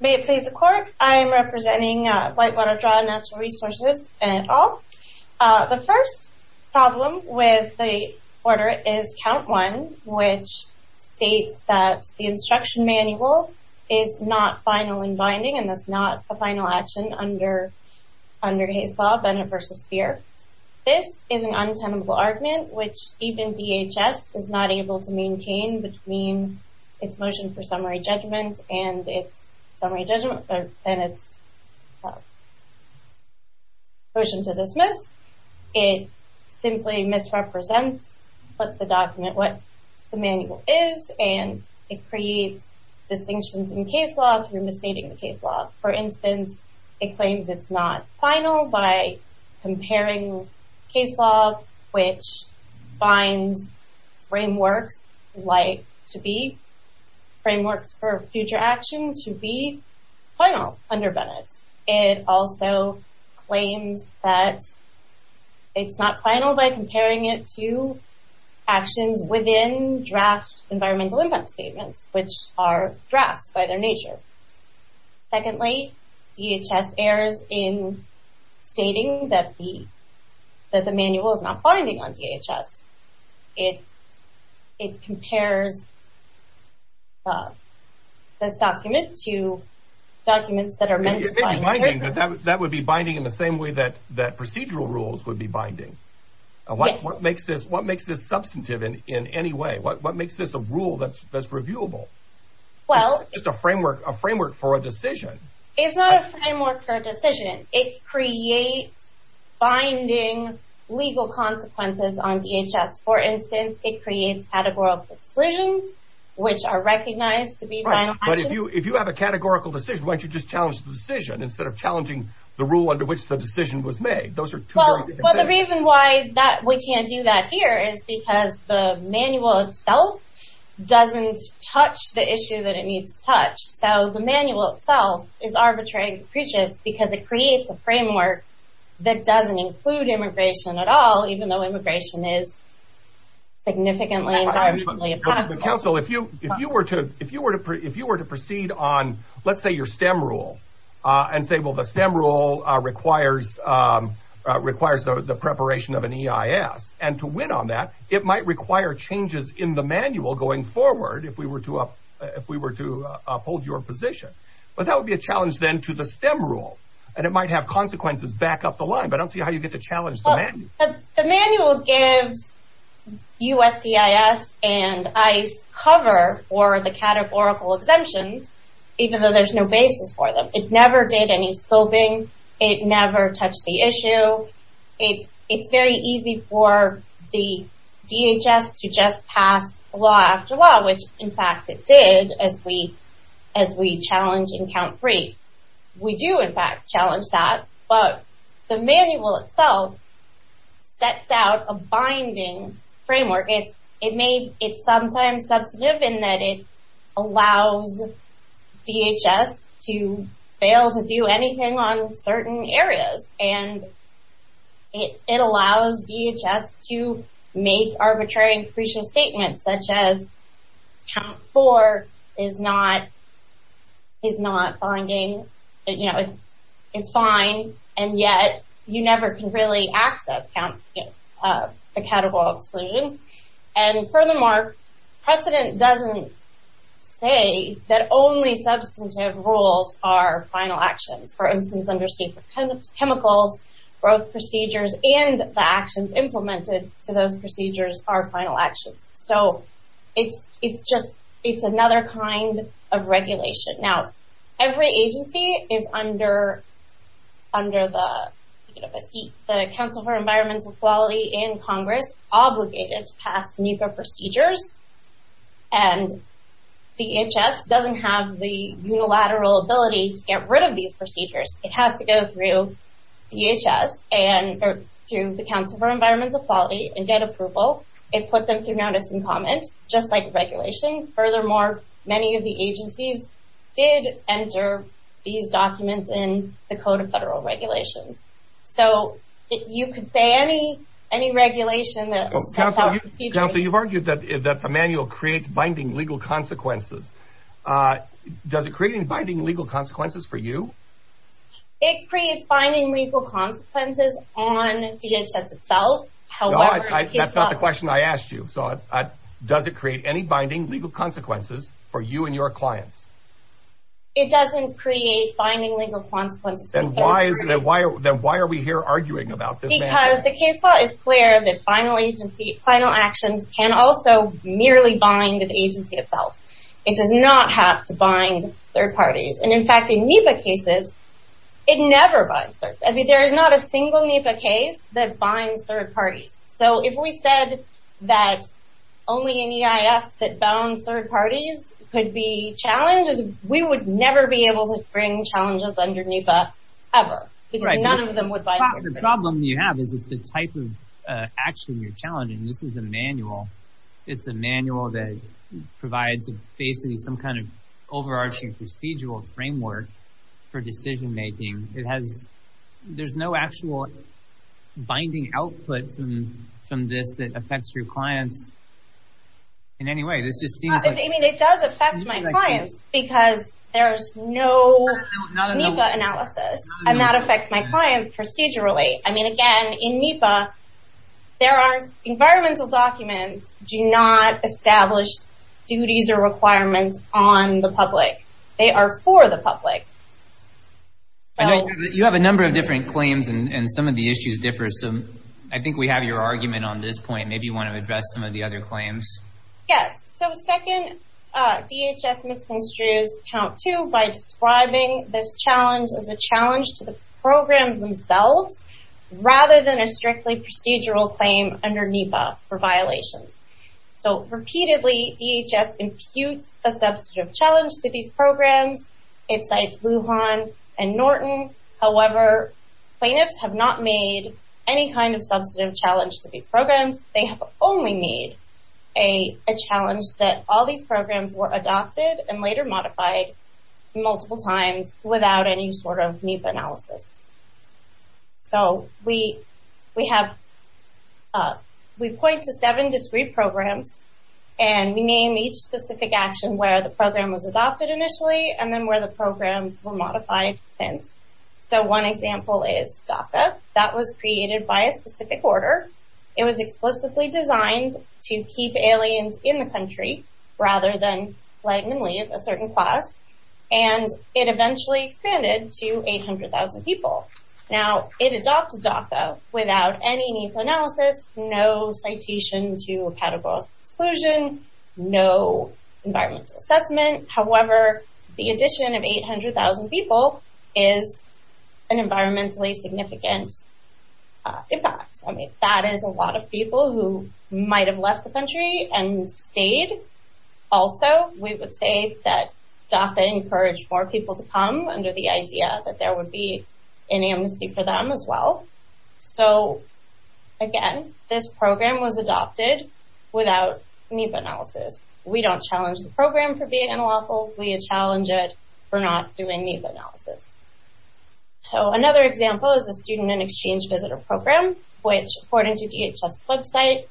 May it please the Court, I am representing Whitewater Draw Natural Resources, et al. The first problem with the order is Count 1, which states that the instruction manual is not final in binding and thus not a final action under Hays' Law, Banner v. Spear. This is an untenable argument, which even DHS is not able to maintain between its motion for summary judgment and its motion to dismiss. It simply misrepresents the document, what the manual is, and it creates distinctions in case law if you're misstating the case law. For instance, it claims it's not final by comparing case law, which finds frameworks like to be, frameworks for future action, to be final under Bennett. It also claims that it's not final by comparing it to actions within draft environmental impact statements, which are drafts by their nature. Secondly, DHS errs in stating that the manual is not binding on DHS. It compares this document to documents that are meant to bind. You're saying that that would be binding in the same way that procedural rules would be binding. What makes this substantive in any way? What makes this a rule that's reviewable? Well... Just a framework for a decision. It's not a framework for a decision. It creates binding legal consequences on DHS. For instance, it creates categorical exclusions, which are recognized to be final actions. If you have a categorical decision, why don't you just challenge the decision instead of challenging the rule under which the decision was made? Those are two very different things. Well, the reason why we can't do that here is because the manual itself doesn't touch the issue that it needs to touch. The manual itself is arbitrary and capricious because it creates a framework that doesn't include immigration at all, even though immigration is significantly environmentally impactful. But counsel, if you were to proceed on, let's say, your STEM rule and say, well, the STEM rule requires the preparation of an EIS, and to win on that, it might require changes in the manual going forward if we were to uphold your position. But that would be a challenge then to the STEM rule, and it might have consequences back up the line. But I don't see how you get to challenge the manual. The manual gives USCIS and ICE cover for the categorical exemptions, even though there's no basis for them. It never did any scoping. It never touched the issue. It's very easy for the DHS to just pass law after law, which, in fact, it did as we challenged in count three. We do, in fact, challenge that, but the manual itself sets out a binding framework. It's sometimes substantive in that it allows DHS to fail to do anything on certain areas, and it allows DHS to make arbitrary and capricious statements, such as count four is not binding. It's fine, and yet you never can really access a categorical exclusion. And furthermore, precedent doesn't say that only substantive rules are final actions. For instance, under State for Chemicals, both procedures and the actions implemented to those procedures are final actions. So it's another kind of regulation. Now, every agency is under the Council for Environmental Equality and Congress obligated to pass NEPA procedures, and DHS doesn't have the unilateral ability to get rid of these procedures. It has to go through DHS and through the Council for Environmental Equality and get approval. It put them through notice and comment, just like regulation. Furthermore, many of the agencies did enter these documents in the Code of Federal Regulations. So you could say any regulation that sets out the procedure— Counsel, you've argued that the manual creates binding legal consequences. Does it create binding legal consequences for you? It creates binding legal consequences on DHS itself. No, that's not the question I asked you. Does it create any binding legal consequences for you and your clients? It doesn't create binding legal consequences. Then why are we here arguing about this manual? Because the case law is clear that final actions can also merely bind the agency itself. It does not have to bind third parties. And in fact, in NEPA cases, it never binds third parties. There is not a single NEPA case that binds third parties. So if we said that only an EIS that bounds third parties could be challenged, we would never be able to bring challenges under NEPA ever because none of them would bind. The problem you have is the type of action you're challenging. This is a manual. Provides basically some kind of overarching procedural framework for decision-making. There's no actual binding output from this that affects your clients in any way. It does affect my clients because there's no NEPA analysis. And that affects my clients procedurally. I mean, again, in NEPA, environmental documents do not establish duties or requirements on the public. They are for the public. You have a number of different claims and some of the issues differ. So I think we have your argument on this point. Maybe you want to address some of the other claims. Yes. So second, DHS misconstrues count two by describing this challenge as a challenge to the programs themselves rather than a strictly procedural claim under NEPA for violations. So repeatedly, DHS imputes a substantive challenge to these programs. It cites Lujan and Norton. However, plaintiffs have not made any kind of substantive challenge to these programs. They have only made a challenge that all these programs were adopted and later modified multiple times without any sort of NEPA analysis. So we point to seven discrete programs and we name each specific action where the program was adopted initially and then where the programs were modified since. So one example is DACA. That was created by a specific order. It was explicitly designed to keep aliens in the country rather than letting them leave a certain class, and it eventually expanded to 800,000 people. Now, it adopted DACA without any NEPA analysis, no citation to a pedigree exclusion, no environmental assessment. However, the addition of 800,000 people is an environmentally significant impact. I mean, that is a lot of people who might have left the country and stayed. Also, we would say that DACA encouraged more people to come under the idea that there would be an amnesty for them as well. So again, this program was adopted without NEPA analysis. We don't challenge the program for being unlawful. We challenge it for not doing NEPA analysis. So another example is the Student and Exchange Visitor Program, which, according to DHS website,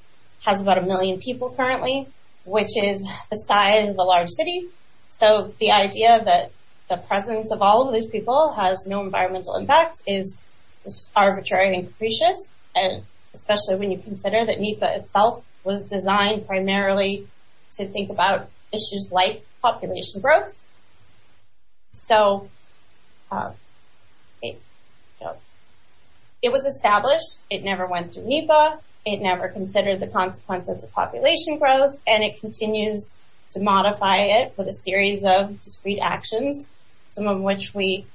has about a million people currently, which is the size of a large city. So the idea that the presence of all of these people has no environmental impact is arbitrary and capricious, especially when you consider that NEPA itself was designed primarily to think about issues like population growth. It was established. It never went through NEPA. It never considered the consequences of population growth. And it continues to modify it with a series of discrete actions, some of which we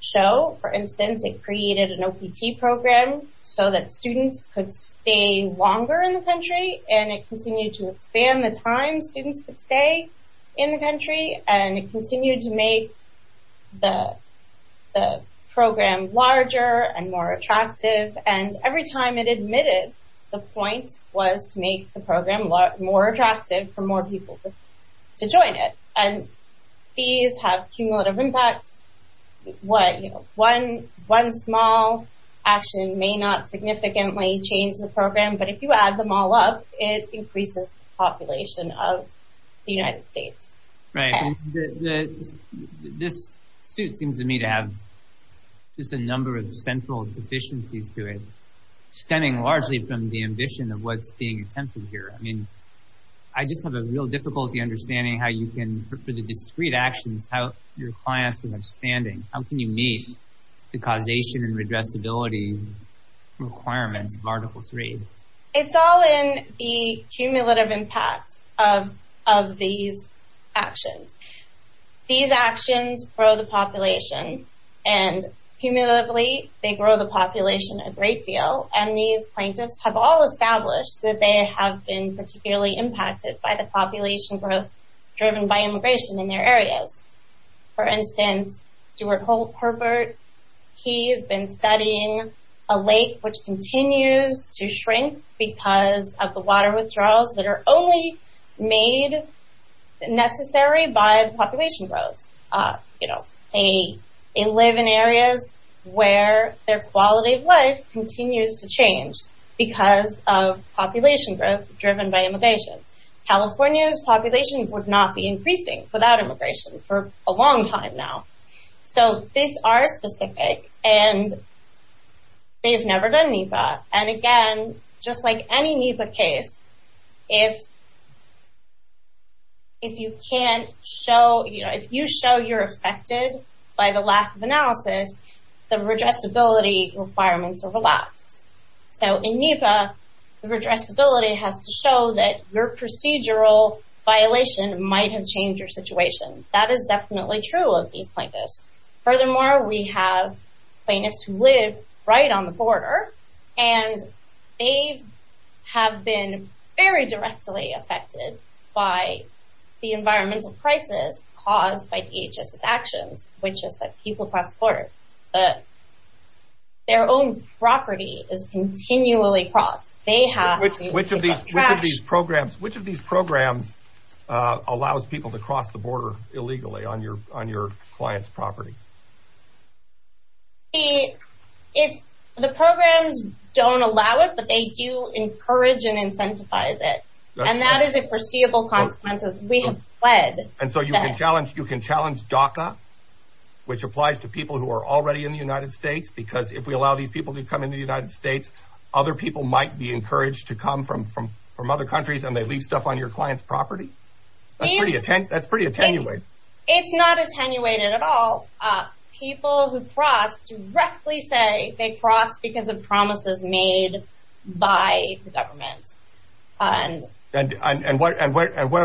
show. For instance, it created an OPT program so that students could stay longer in the country. And it continued to expand the time students could stay in the country. And it continued to make the program larger and more attractive. And every time it admitted, the point was to make the program more attractive for more people to join it. And these have cumulative impacts. One small action may not significantly change the program. But if you add them all up, it increases the population of the United States. Right. This suit seems to me to have just a number of central deficiencies to it, stemming largely from the ambition of what's being attempted here. I mean, I just have a real difficulty understanding how you can, for the discrete actions, how your clients are understanding. How can you meet the causation and redressability requirements of Article 3? It's all in the cumulative impacts of these actions. These actions grow the population. And cumulatively, they grow the population a great deal. And these plaintiffs have all established that they have been particularly impacted by the population growth driven by immigration in their areas. For instance, Stuart Herbert, he has been studying a lake which continues to shrink because of the water withdrawals that are only made necessary by the population growth. You know, they live in areas where their quality of life continues to change because of population growth driven by immigration. California's population would not be increasing without immigration for a long time now. So, these are specific and they've never done NEPA. And again, just like any NEPA case, if you can't show, if you show you're affected by the lack of analysis, the redressability requirements are relaxed. So, in NEPA, the redressability has to show that your procedural violation might have changed your situation. That is definitely true of these plaintiffs. Furthermore, we have plaintiffs who live right on the border and they have been very directly affected by the environmental crisis caused by DHS's actions, which is that people cross the border, their own property is continually crossed. They have to pick up trash. Which of these programs allows people to cross the border illegally on your client's property? The programs don't allow it, but they do encourage and incentivize it. And that is a foreseeable consequence. We have pled. And so, you can challenge DACA, which applies to people who are already in the United States, because if we allow these people to come in the United States, other people might be encouraged to come from other countries and they leave stuff on your client's property? That's pretty attenuated. It's not attenuated at all. People who cross directly say they cross because of promises made by the government. And what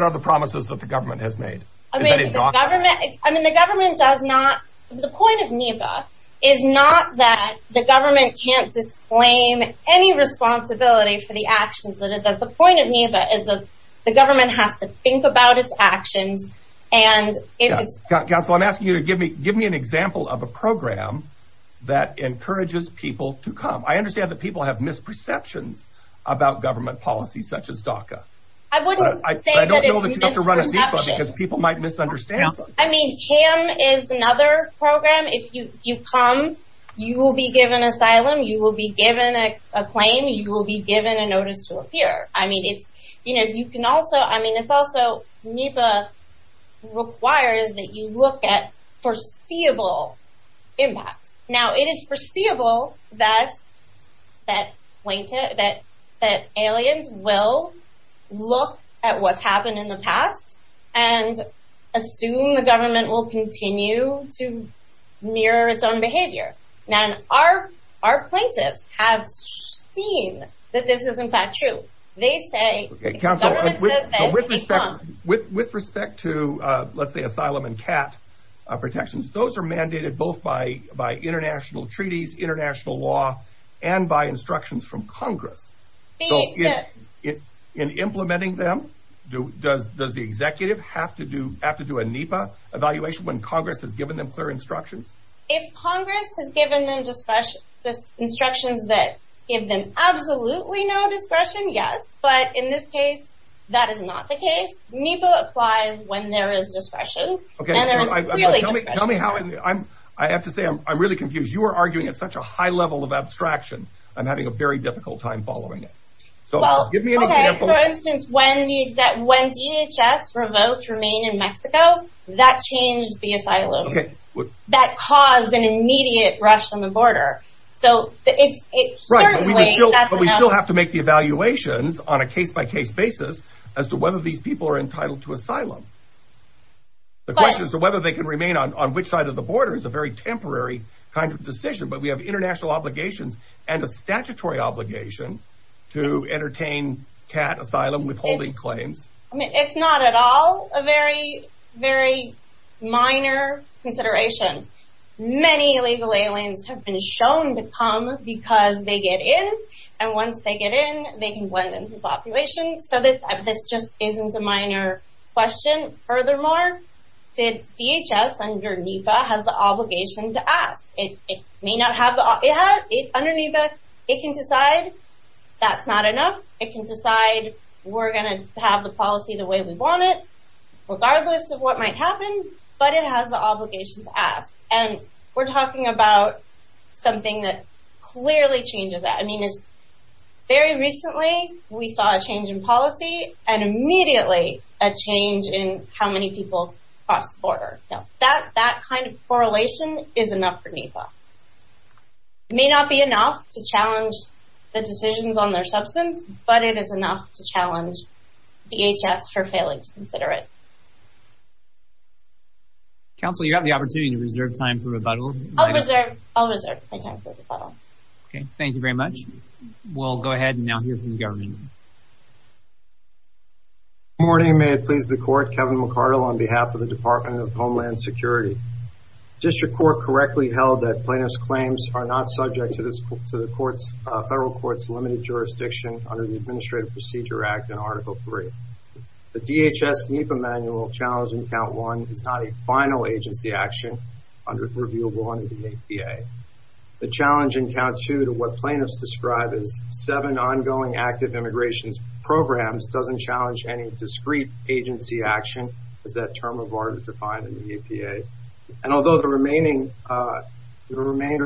are the promises that the government has made? I mean, the government does not... The point of NEPA is not that the government can't disclaim any responsibility for the actions that it does. The point of NEPA is that the government has to think about its actions and if it's... Counsel, I'm asking you to give me an example of a program that encourages people to come. I understand that people have misperceptions about government policy, such as DACA. I wouldn't say that it's a misperception. But I don't know that you have to run a NEPA because people might misunderstand. I mean, CAM is another program. If you come, you will be given asylum. You will be given a claim. You will be given a notice to appear. I mean, it's, you know, you can also... I mean, it's also NEPA requires that you look at foreseeable impacts. Now, it is foreseeable that aliens will look at what's happened in the past and assume the government will continue to mirror its own behavior. Now, our plaintiffs have seen that this is, in fact, true. They say... Okay, counsel, with respect to, let's say, asylum and CAT protections, those are mandated both by international treaties, international law, and by instructions from Congress. So, in implementing them, does the executive have to do a NEPA evaluation when Congress has given them clear instructions? If Congress has given them instructions that give them absolutely no discretion, yes. But in this case, that is not the case. NEPA applies when there is discretion. Okay, tell me how... I have to say, I'm really confused. You are arguing at such a high level of abstraction. I'm having a very difficult time following it. So, give me an example. For instance, when DHS revoked Remain in Mexico, that changed the asylum. That caused an immediate rush on the border. So, it's certainly... But we still have to make the evaluations on a case-by-case basis as to whether these people are entitled to asylum. The question is whether they can remain on which side of the border is a very temporary kind of decision. But we have international obligations and a statutory obligation to entertain CAT asylum withholding claims. It's not at all a very, very minor consideration. Many illegal aliens have been shown to come because they get in. And once they get in, they can blend into the population. So, this just isn't a minor question. Furthermore, DHS under NEPA has the obligation to ask. It may not have... Under NEPA, it can decide that's not enough. It can decide we're going to have the policy the way we want it, regardless of what might happen. But it has the obligation to ask. And we're talking about something that clearly changes that. It's very recently we saw a change in policy and immediately a change in how many people cross the border. That kind of correlation is enough for NEPA. It may not be enough to challenge the decisions on their substance, but it is enough to challenge DHS for failing to consider it. Counsel, you have the opportunity to reserve time for rebuttal. I'll reserve my time for rebuttal. Okay. Thank you very much. We'll go ahead and now hear from the government. Good morning. May it please the court. Kevin McCardle on behalf of the Department of Homeland Security. District Court correctly held that plaintiff's claims are not subject to the federal court's limited jurisdiction under the Administrative Procedure Act in Article 3. The DHS NEPA manual challenging Count 1 is not a final agency action under... Revealable under the APA. The challenge in Count 2 to what plaintiffs describe as seven ongoing active immigration programs doesn't challenge any discrete agency action as that term of art is defined in the APA. And although the remainder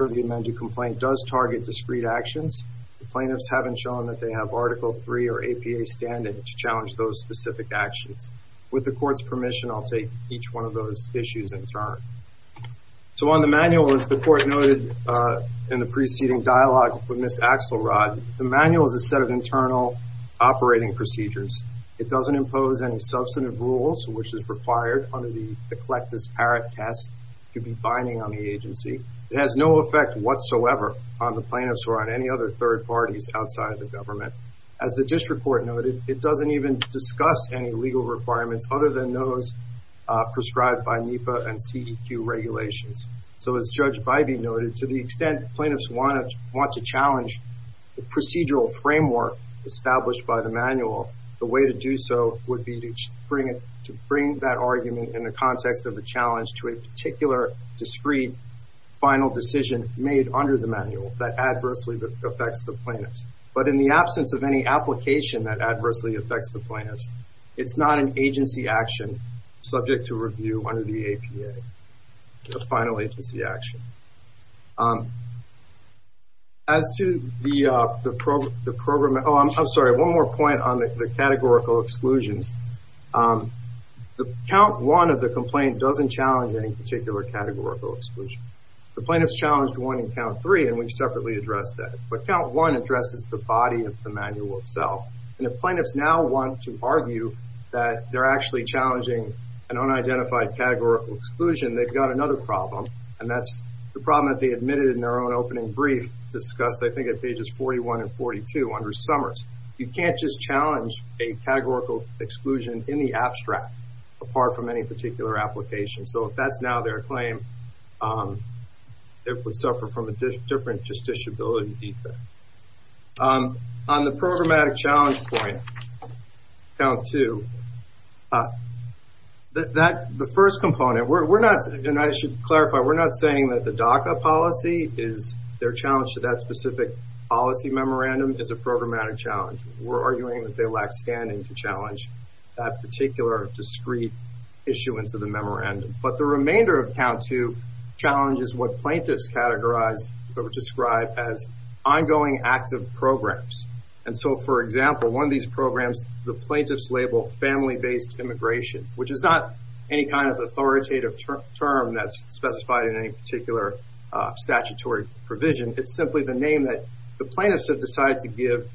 of the amended complaint does target discrete actions, the plaintiffs haven't shown that they have Article 3 or APA standing to challenge those specific actions. With the court's permission, I'll take each one of those issues in turn. So on the manual, as the court noted in the preceding dialogue with Ms. Axelrod, the manual is a set of internal operating procedures. It doesn't impose any substantive rules, which is required under the eclectus parrot test to be binding on the agency. It has no effect whatsoever on the plaintiffs or on any other third parties outside of the government. As the district court noted, it doesn't even discuss any legal requirements other than those prescribed by NEPA and CEQ regulations. So as Judge Bybee noted, to the extent plaintiffs want to challenge the procedural framework established by the manual, the way to do so would be to bring that argument in the context of the challenge to a particular discrete final decision made under the manual that adversely affects the plaintiffs. But in the absence of any application that adversely affects the plaintiffs, it's not an agency action subject to review under the APA. It's a final agency action. As to the program, oh, I'm sorry. One more point on the categorical exclusions. The count one of the complaint doesn't challenge any particular categorical exclusion. The plaintiffs challenged one in count three, and we separately addressed that. But count one addresses the body of the manual itself. And the plaintiffs now want to argue that they're actually challenging an unidentified categorical exclusion. They've got another problem, and that's the problem that they admitted in their own opening brief discussed, I think, at pages 41 and 42 under Summers. You can't just challenge a categorical exclusion in the abstract apart from any particular application. So if that's now their claim, it would suffer from a different justiciability defense. On the programmatic challenge point, count two, the first component, and I should clarify, we're not saying that the DACA policy, their challenge to that specific policy memorandum is a programmatic challenge. We're arguing that they lack standing to challenge that particular discrete issuance of the memorandum. But the remainder of count two challenges what plaintiffs categorize or describe as ongoing active programs. And so, for example, one of these programs, the plaintiffs label family-based immigration, which is not any kind of authoritative term that's specified in any particular statutory provision. It's simply the name that the plaintiffs have decided to give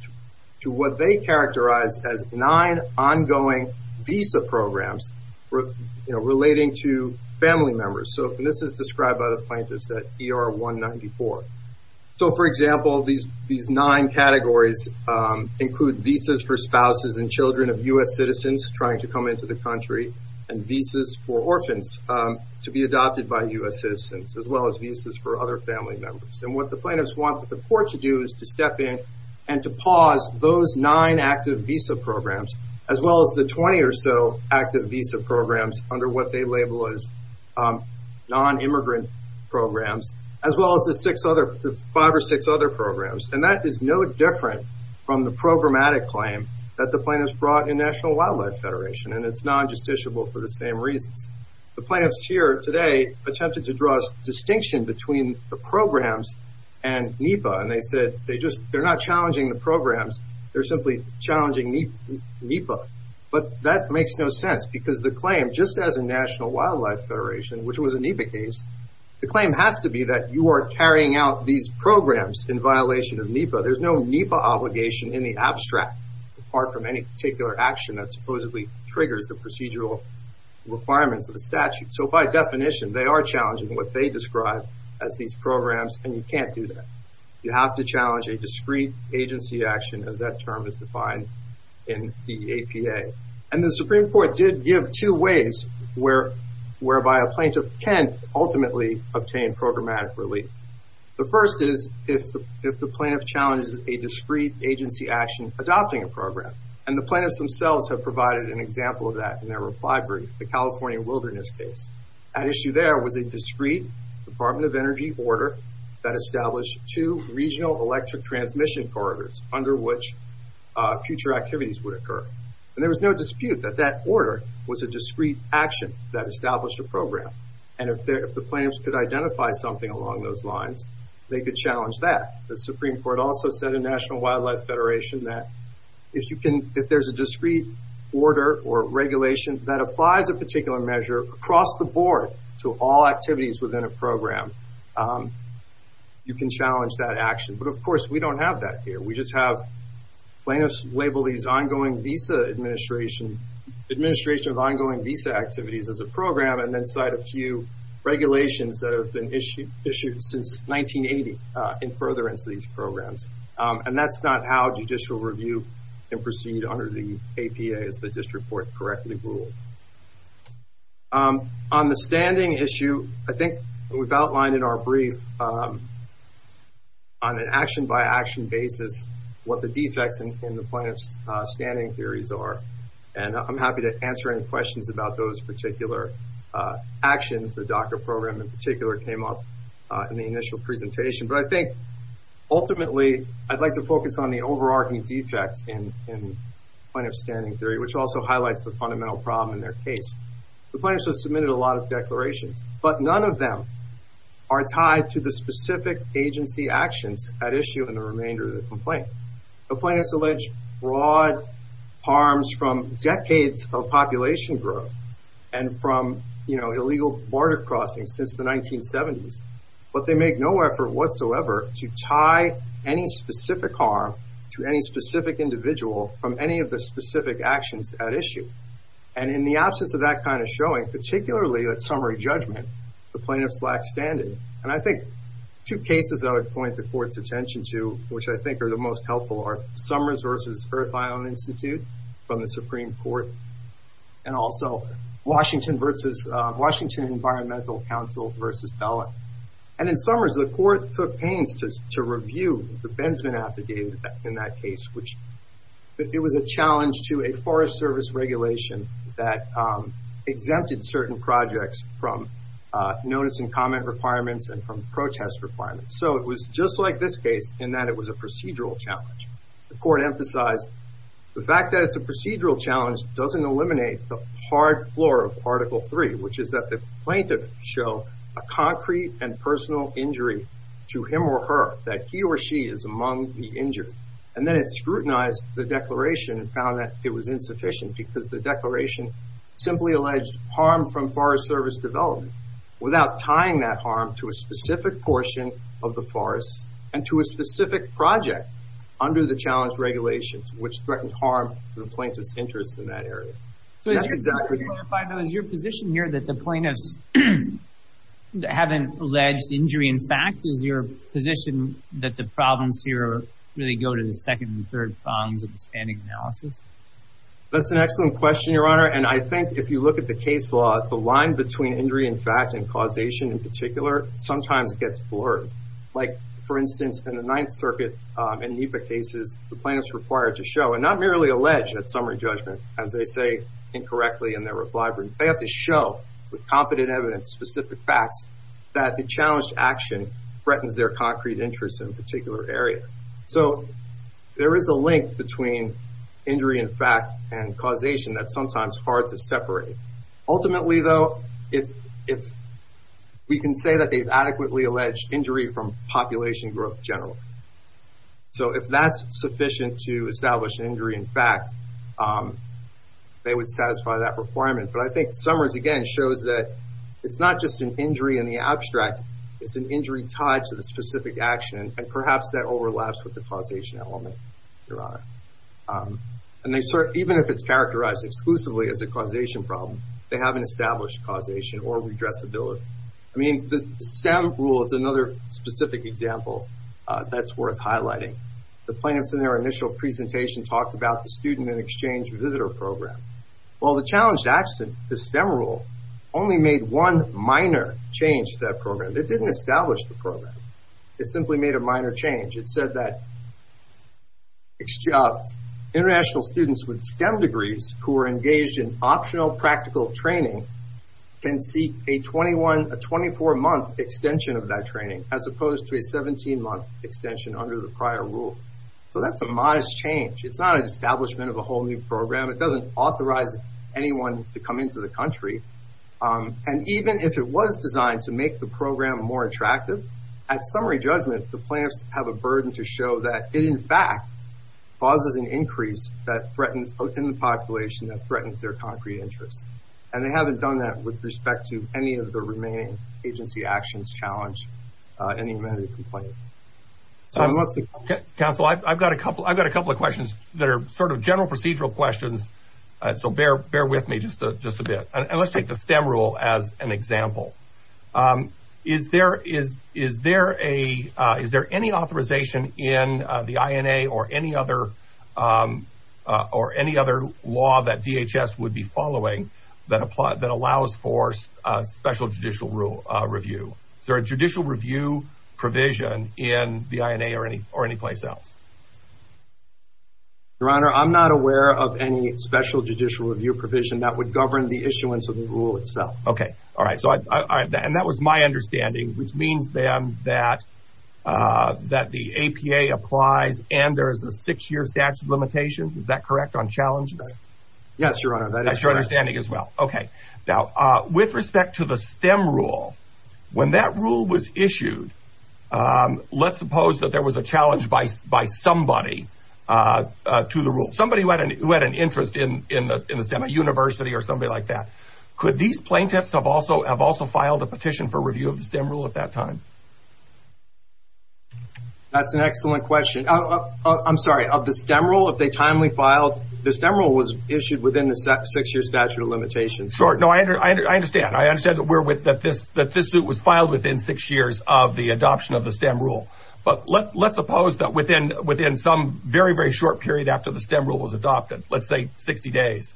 to what they characterize as nine ongoing visa programs relating to family members. So this is described by the plaintiffs at ER 194. So, for example, these nine categories include visas for spouses and children of U.S. citizens trying to come into the country and visas for orphans to be adopted by U.S. citizens, as well as visas for other family members. And what the plaintiffs want the court to do is to step in and to pause those nine active visa programs, as well as the 20 or so active visa programs under what they label as non-immigrant programs, as well as the five or six other programs. And that is no different from the programmatic claim that the plaintiffs brought in National Wildlife Federation. And it's non-justiciable for the same reasons. The plaintiffs here today attempted to draw a distinction between the programs and NEPA. And they said they're not challenging the programs. They're simply challenging NEPA. But that makes no sense because the claim, just as in National Wildlife Federation, which was a NEPA case, the claim has to be that you are carrying out these programs in violation of NEPA. There's no NEPA obligation in the abstract, apart from any particular action that supposedly triggers the procedural requirements of the statute. So by definition, they are challenging what they describe as these programs, and you can't do that. You have to challenge a discrete agency action, as that term is defined in the APA. And the Supreme Court did give two ways whereby a plaintiff can ultimately obtain programmatic relief. The first is if the plaintiff challenges a discrete agency action adopting a program. And the plaintiffs themselves have provided an example of that in their reply brief, the California Wilderness case. At issue there was a discrete Department of Energy order that established two regional electric transmission corridors under which future activities would occur. And there was no dispute that that order was a discrete action that established a program. And if the plaintiffs could identify something along those lines, they could challenge that. The Supreme Court also said in National Wildlife Federation that if you can, if there's a board to all activities within a program, you can challenge that action. But of course, we don't have that here. We just have plaintiffs label these ongoing visa administration, administration of ongoing visa activities as a program, and then cite a few regulations that have been issued since 1980 in furtherance of these programs. And that's not how judicial review can proceed under the APA, as the district court correctly ruled. On the standing issue, I think we've outlined in our brief on an action by action basis what the defects in the plaintiff's standing theories are. And I'm happy to answer any questions about those particular actions. The DACA program in particular came up in the initial presentation. But I think ultimately, I'd like to focus on the overarching defects in plaintiff's theory, which also highlights the fundamental problem in their case. The plaintiffs have submitted a lot of declarations, but none of them are tied to the specific agency actions at issue in the remainder of the complaint. The plaintiffs allege broad harms from decades of population growth and from illegal border crossings since the 1970s, but they make no effort whatsoever to tie any specific harm to any specific individual from any of the specific actions at issue. And in the absence of that kind of showing, particularly at summary judgment, the plaintiffs lack standing. And I think two cases I would point the court's attention to, which I think are the most helpful are Summers v. Earth Island Institute from the Supreme Court, and also Washington Environmental Council v. Bella. And in Summers, the court took pains to review the Benzmann affidavit in that case, which it was a challenge to a Forest Service regulation that exempted certain projects from notice and comment requirements and from protest requirements. So it was just like this case in that it was a procedural challenge. The court emphasized the fact that it's a procedural challenge doesn't eliminate the hard floor of Article III, which is that the plaintiff show a concrete and personal injury to him or her, that he or she is among the injured. And then it scrutinized the declaration and found that it was insufficient because the declaration simply alleged harm from Forest Service development without tying that harm to a specific portion of the forest and to a specific project under the challenge regulations, which threatened harm to the plaintiff's interests in that area. So is your position here that the plaintiffs haven't alleged injury in fact? Is your position that the problems here really go to the second and third columns of the standing analysis? That's an excellent question, Your Honor. And I think if you look at the case law, the line between injury in fact and causation in particular sometimes gets blurred. Like, for instance, in the Ninth Circuit and NEPA cases, the plaintiffs required to show and not merely allege at summary judgment, as they say incorrectly in their reply brief, they have to show with competent evidence, specific facts, that the challenged action threatens their concrete interests in a particular area. So there is a link between injury in fact and causation that's sometimes hard to separate. Ultimately, though, if we can say that they've adequately alleged injury from population growth generally. So if that's sufficient to establish an injury in fact, they would satisfy that requirement. But I think Summers, again, shows that it's not just an injury in the abstract. It's an injury tied to the specific action, and perhaps that overlaps with the causation element, Your Honor. And even if it's characterized exclusively as a causation problem, they haven't established causation or redressability. I mean, the STEM rule is another specific example that's worth highlighting. The plaintiffs in their initial presentation talked about the student and exchange visitor program. Well, the challenged action, the STEM rule, only made one minor change to that program. It didn't establish the program. It simply made a minor change. It said that international students with STEM degrees who are engaged in optional practical training can seek a 24-month extension of that training as opposed to a 17-month extension under the prior rule. So that's a modest change. It's not an establishment of a whole new program. It doesn't authorize anyone to come into the country. And even if it was designed to make the program more attractive, at summary judgment, the plaintiffs have a burden to show that it in fact causes an increase in the population that threatens their concrete interests. And they haven't done that with respect to any of the remaining agency actions challenged in the amenity complaint. Counsel, I've got a couple of questions that are sort of general procedural questions, so bear with me just a bit. And let's take the STEM rule as an example. Is there any authorization in the INA or any other law that DHS would be following that allows for special judicial review? Is there a judicial review provision in the INA or any place else? Your Honor, I'm not aware of any special judicial review provision that would govern the issuance of the rule itself. OK. All right. And that was my understanding, which means, then, that the APA applies and there is a six-year statute of limitations. Is that correct on challenges? Yes, Your Honor. That's your understanding as well. OK. Now, with respect to the STEM rule, when that rule was issued, let's suppose that there was a challenge by somebody to the rule, somebody who had an interest in the STEM, a university or somebody like that. Could these plaintiffs have also filed a petition for review of the STEM rule at that time? That's an excellent question. I'm sorry. The STEM rule, if they timely filed, the STEM rule was issued within the six-year statute of limitations. Sure. No, I understand. I understand that this suit was filed within six years of the adoption of the STEM rule. But let's suppose that within some very, very short period after the STEM rule was adopted, let's say 60 days,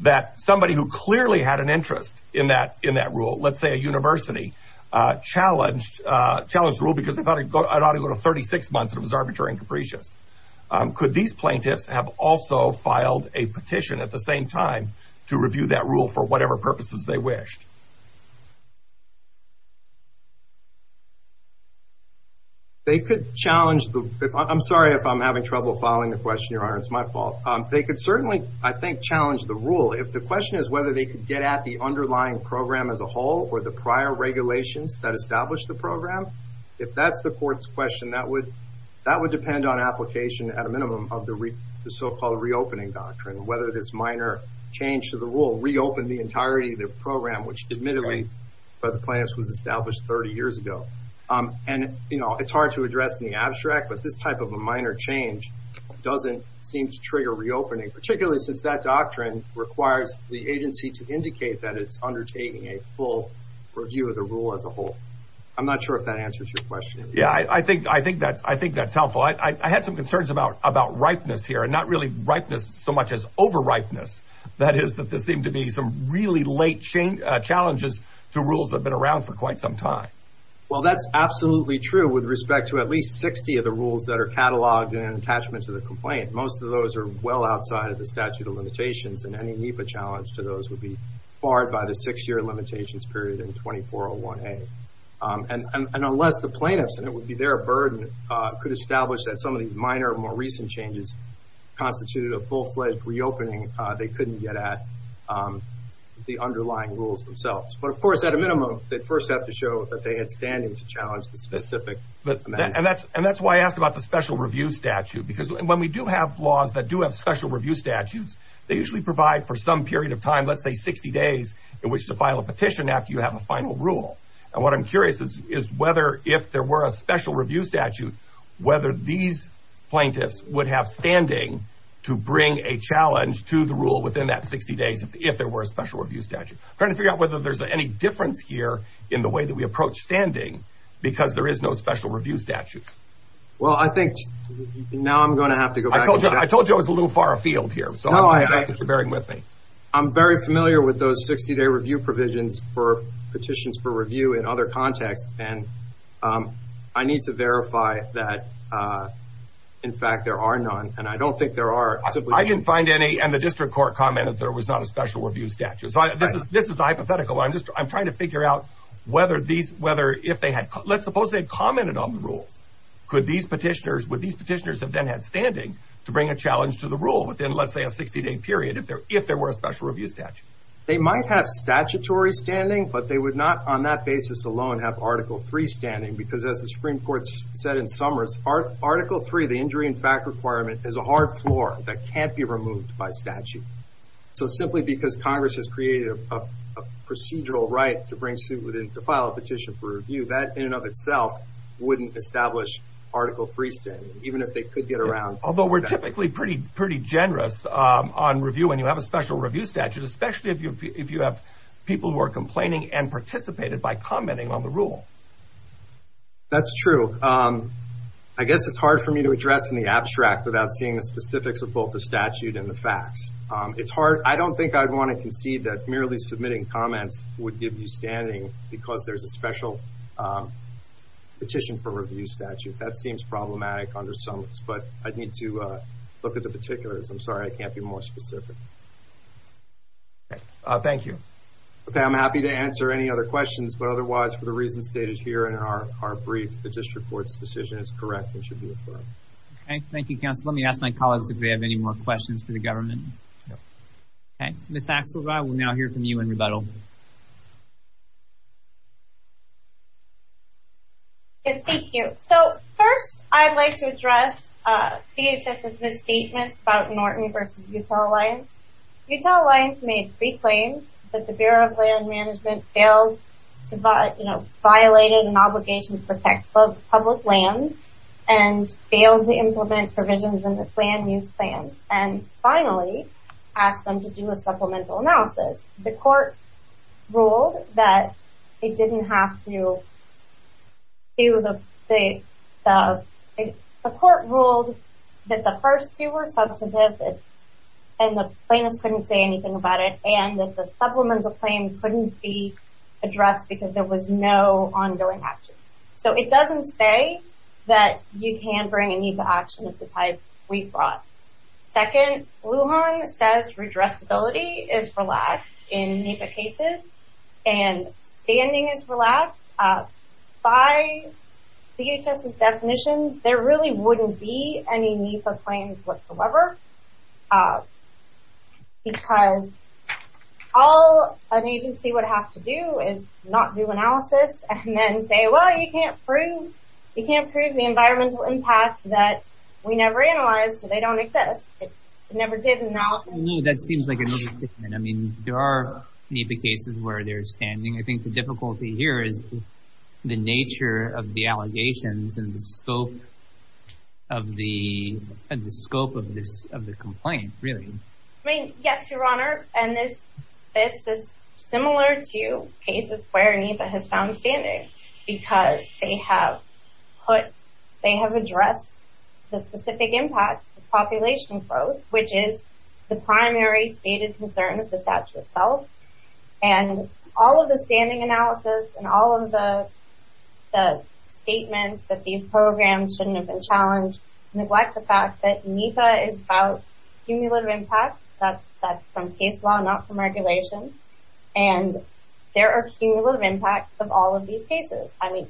that somebody who clearly had an interest in that rule, let's say a university, challenged the rule because they thought it ought to go to 36 months and it was arbitrary and capricious. Could these plaintiffs have also filed a petition at the same time to review that rule for whatever purposes they wished? They could challenge the... I'm sorry if I'm having trouble following the question, Your Honor. It's my fault. They could certainly, I think, challenge the rule. If the question is whether they could get at the underlying program as a whole or the prior regulations that established the program, if that's the court's question, that would depend on application at a minimum of the so-called reopening doctrine, whether this minor change to the rule reopened the entirety of the program, which admittedly by the plaintiffs was established 30 years ago. And it's hard to address in the abstract, but this type of a minor change doesn't seem to trigger reopening, particularly since that doctrine requires the agency to indicate that it's undertaking a full review of the rule as a whole. I'm not sure if that answers your question. Yeah, I think that's helpful. I had some concerns about ripeness here, and not really ripeness so much as over-ripeness. That is that there seem to be some really late challenges to rules that have been around for quite some time. Well, that's absolutely true with respect to at least 60 of the rules that are catalogued in an attachment to the complaint. Most of those are well outside of the statute of limitations, and any NEPA challenge to those would be barred by the six-year limitations period in 2401A. And unless the plaintiffs, and it would be their burden, could establish that some of these minor, more recent changes constituted a full-fledged reopening, they couldn't get at the underlying rules themselves. But of course, at a minimum, they'd first have to show that they had standing to challenge the specific amendment. And that's why I asked about the special review statute. Because when we do have laws that do have special review statutes, they usually provide for some period of time, let's say 60 days, in which to file a petition after you have a final rule. And what I'm curious is whether, if there were a special review statute, whether these plaintiffs would have standing to bring a challenge to the rule within that 60 days if there were a special review statute. Trying to figure out whether there's any difference here in the way that we approach standing, because there is no special review statute. Well, I think now I'm going to have to go back to that. I told you I was a little far afield here, so I'm going to ask if you're bearing with me. I'm very familiar with those 60-day review provisions for petitions for review in other contexts. And I need to verify that, in fact, there are none. And I don't think there are simply any. I didn't find any. And the district court commented there was not a special review statute. This is hypothetical. I'm trying to figure out whether these, if they had, let's suppose they commented on the rules. Could these petitioners, would these petitioners have then had standing to bring a challenge to the rule within, let's say, a 60-day period? If there were a special review statute. They might have statutory standing, but they would not, on that basis alone, have Article 3 standing. Because as the Supreme Court said in Summers, Article 3, the injury in fact requirement, is a hard floor that can't be removed by statute. So simply because Congress has created a procedural right to bring suit within, to file a petition for review, that in and of itself wouldn't establish Article 3 standing, even if they could get around. Although we're typically pretty generous on review when you have a special review statute, especially if you have people who are complaining and participated by commenting on the rule. That's true. I guess it's hard for me to address in the abstract without seeing the specifics of both the statute and the facts. I don't think I'd want to concede that merely submitting comments would give you standing because there's a special petition for review statute. That seems problematic under Summers. But I'd need to look at the particulars. I'm sorry, I can't be more specific. Thank you. Okay, I'm happy to answer any other questions. But otherwise, for the reasons stated here in our brief, the district court's decision is correct and should be affirmed. Okay, thank you, counsel. Let me ask my colleagues if they have any more questions for the government. Okay, Ms. Axelrod, we'll now hear from you in rebuttal. Thank you. First, I'd like to address DHS's misstatements about Norton v. Utah Alliance. Utah Alliance made three claims that the Bureau of Land Management failed to violate an obligation to protect public land and failed to implement provisions in the land use plan, and finally asked them to do a supplemental analysis. The court ruled that the first two were substantive, and the plaintiffs couldn't say anything about it, and that the supplemental claim couldn't be addressed because there was no ongoing action. So it doesn't say that you can't bring any action of the type we brought. Second, Lujan says redressability is relaxed in NEPA cases, and standing is relaxed. By DHS's definition, there really wouldn't be any NEPA claims whatsoever, because all an agency would have to do is not do analysis and then say, well, you can't prove the environmental impacts that we never analyzed, so they don't exist. It never did analysis. No, that seems like a misstatement. I mean, there are NEPA cases where they're standing. I think the difficulty here is the nature of the allegations and the scope of the complaint, really. I mean, yes, Your Honor, and this is similar to cases where NEPA has found standing, because they have addressed the specific impacts of population growth, which is the primary stated concern of the statute itself. And all of the standing analysis and all of the statements that these programs shouldn't have been challenged neglect the fact that NEPA is about cumulative impacts. That's from case law, not from regulation. And there are cumulative impacts of all of these cases. I mean,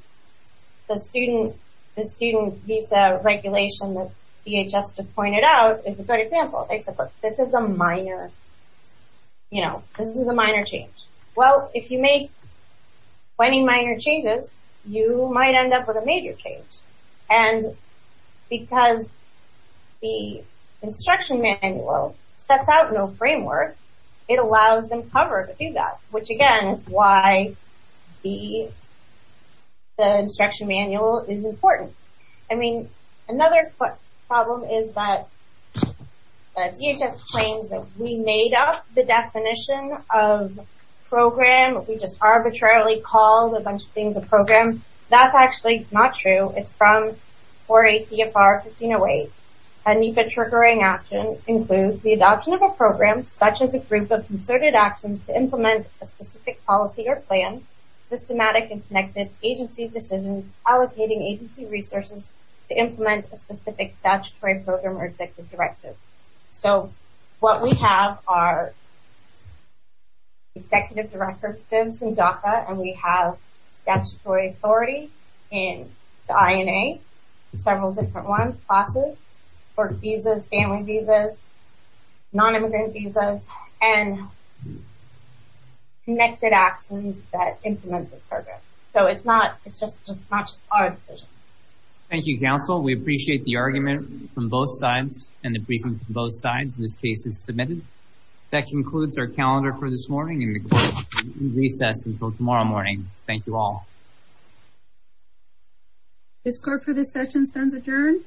the student visa regulation that DHS just pointed out is a great example. They said, look, this is a minor, you know, this is a minor change. Well, if you make 20 minor changes, you might end up with a major change. And because the instruction manual sets out no framework, it allows them cover to do that, which, again, is why the instruction manual is important. I mean, another problem is that DHS claims that we made up the definition of program. We just arbitrarily called a bunch of things a program. That's actually not true. It's from 4 ACFR 1508. A NEPA triggering action includes the adoption of a program, such as a group of concerted actions to implement a specific policy or plan, systematic and connected agency decisions, allocating agency resources to implement a specific statutory program or executive directive. So, what we have are executive directives in DACA, and we have statutory authority in the INA, several different ones, classes, work visas, family visas, nonimmigrant visas, and connected actions that implement the program. So, it's not, it's just not our decision. Thank you, counsel. We appreciate the argument from both sides and the briefing from both sides. This case is submitted. That concludes our calendar for this morning and the recess until tomorrow morning. Thank you all. This clerk for this session stands adjourned.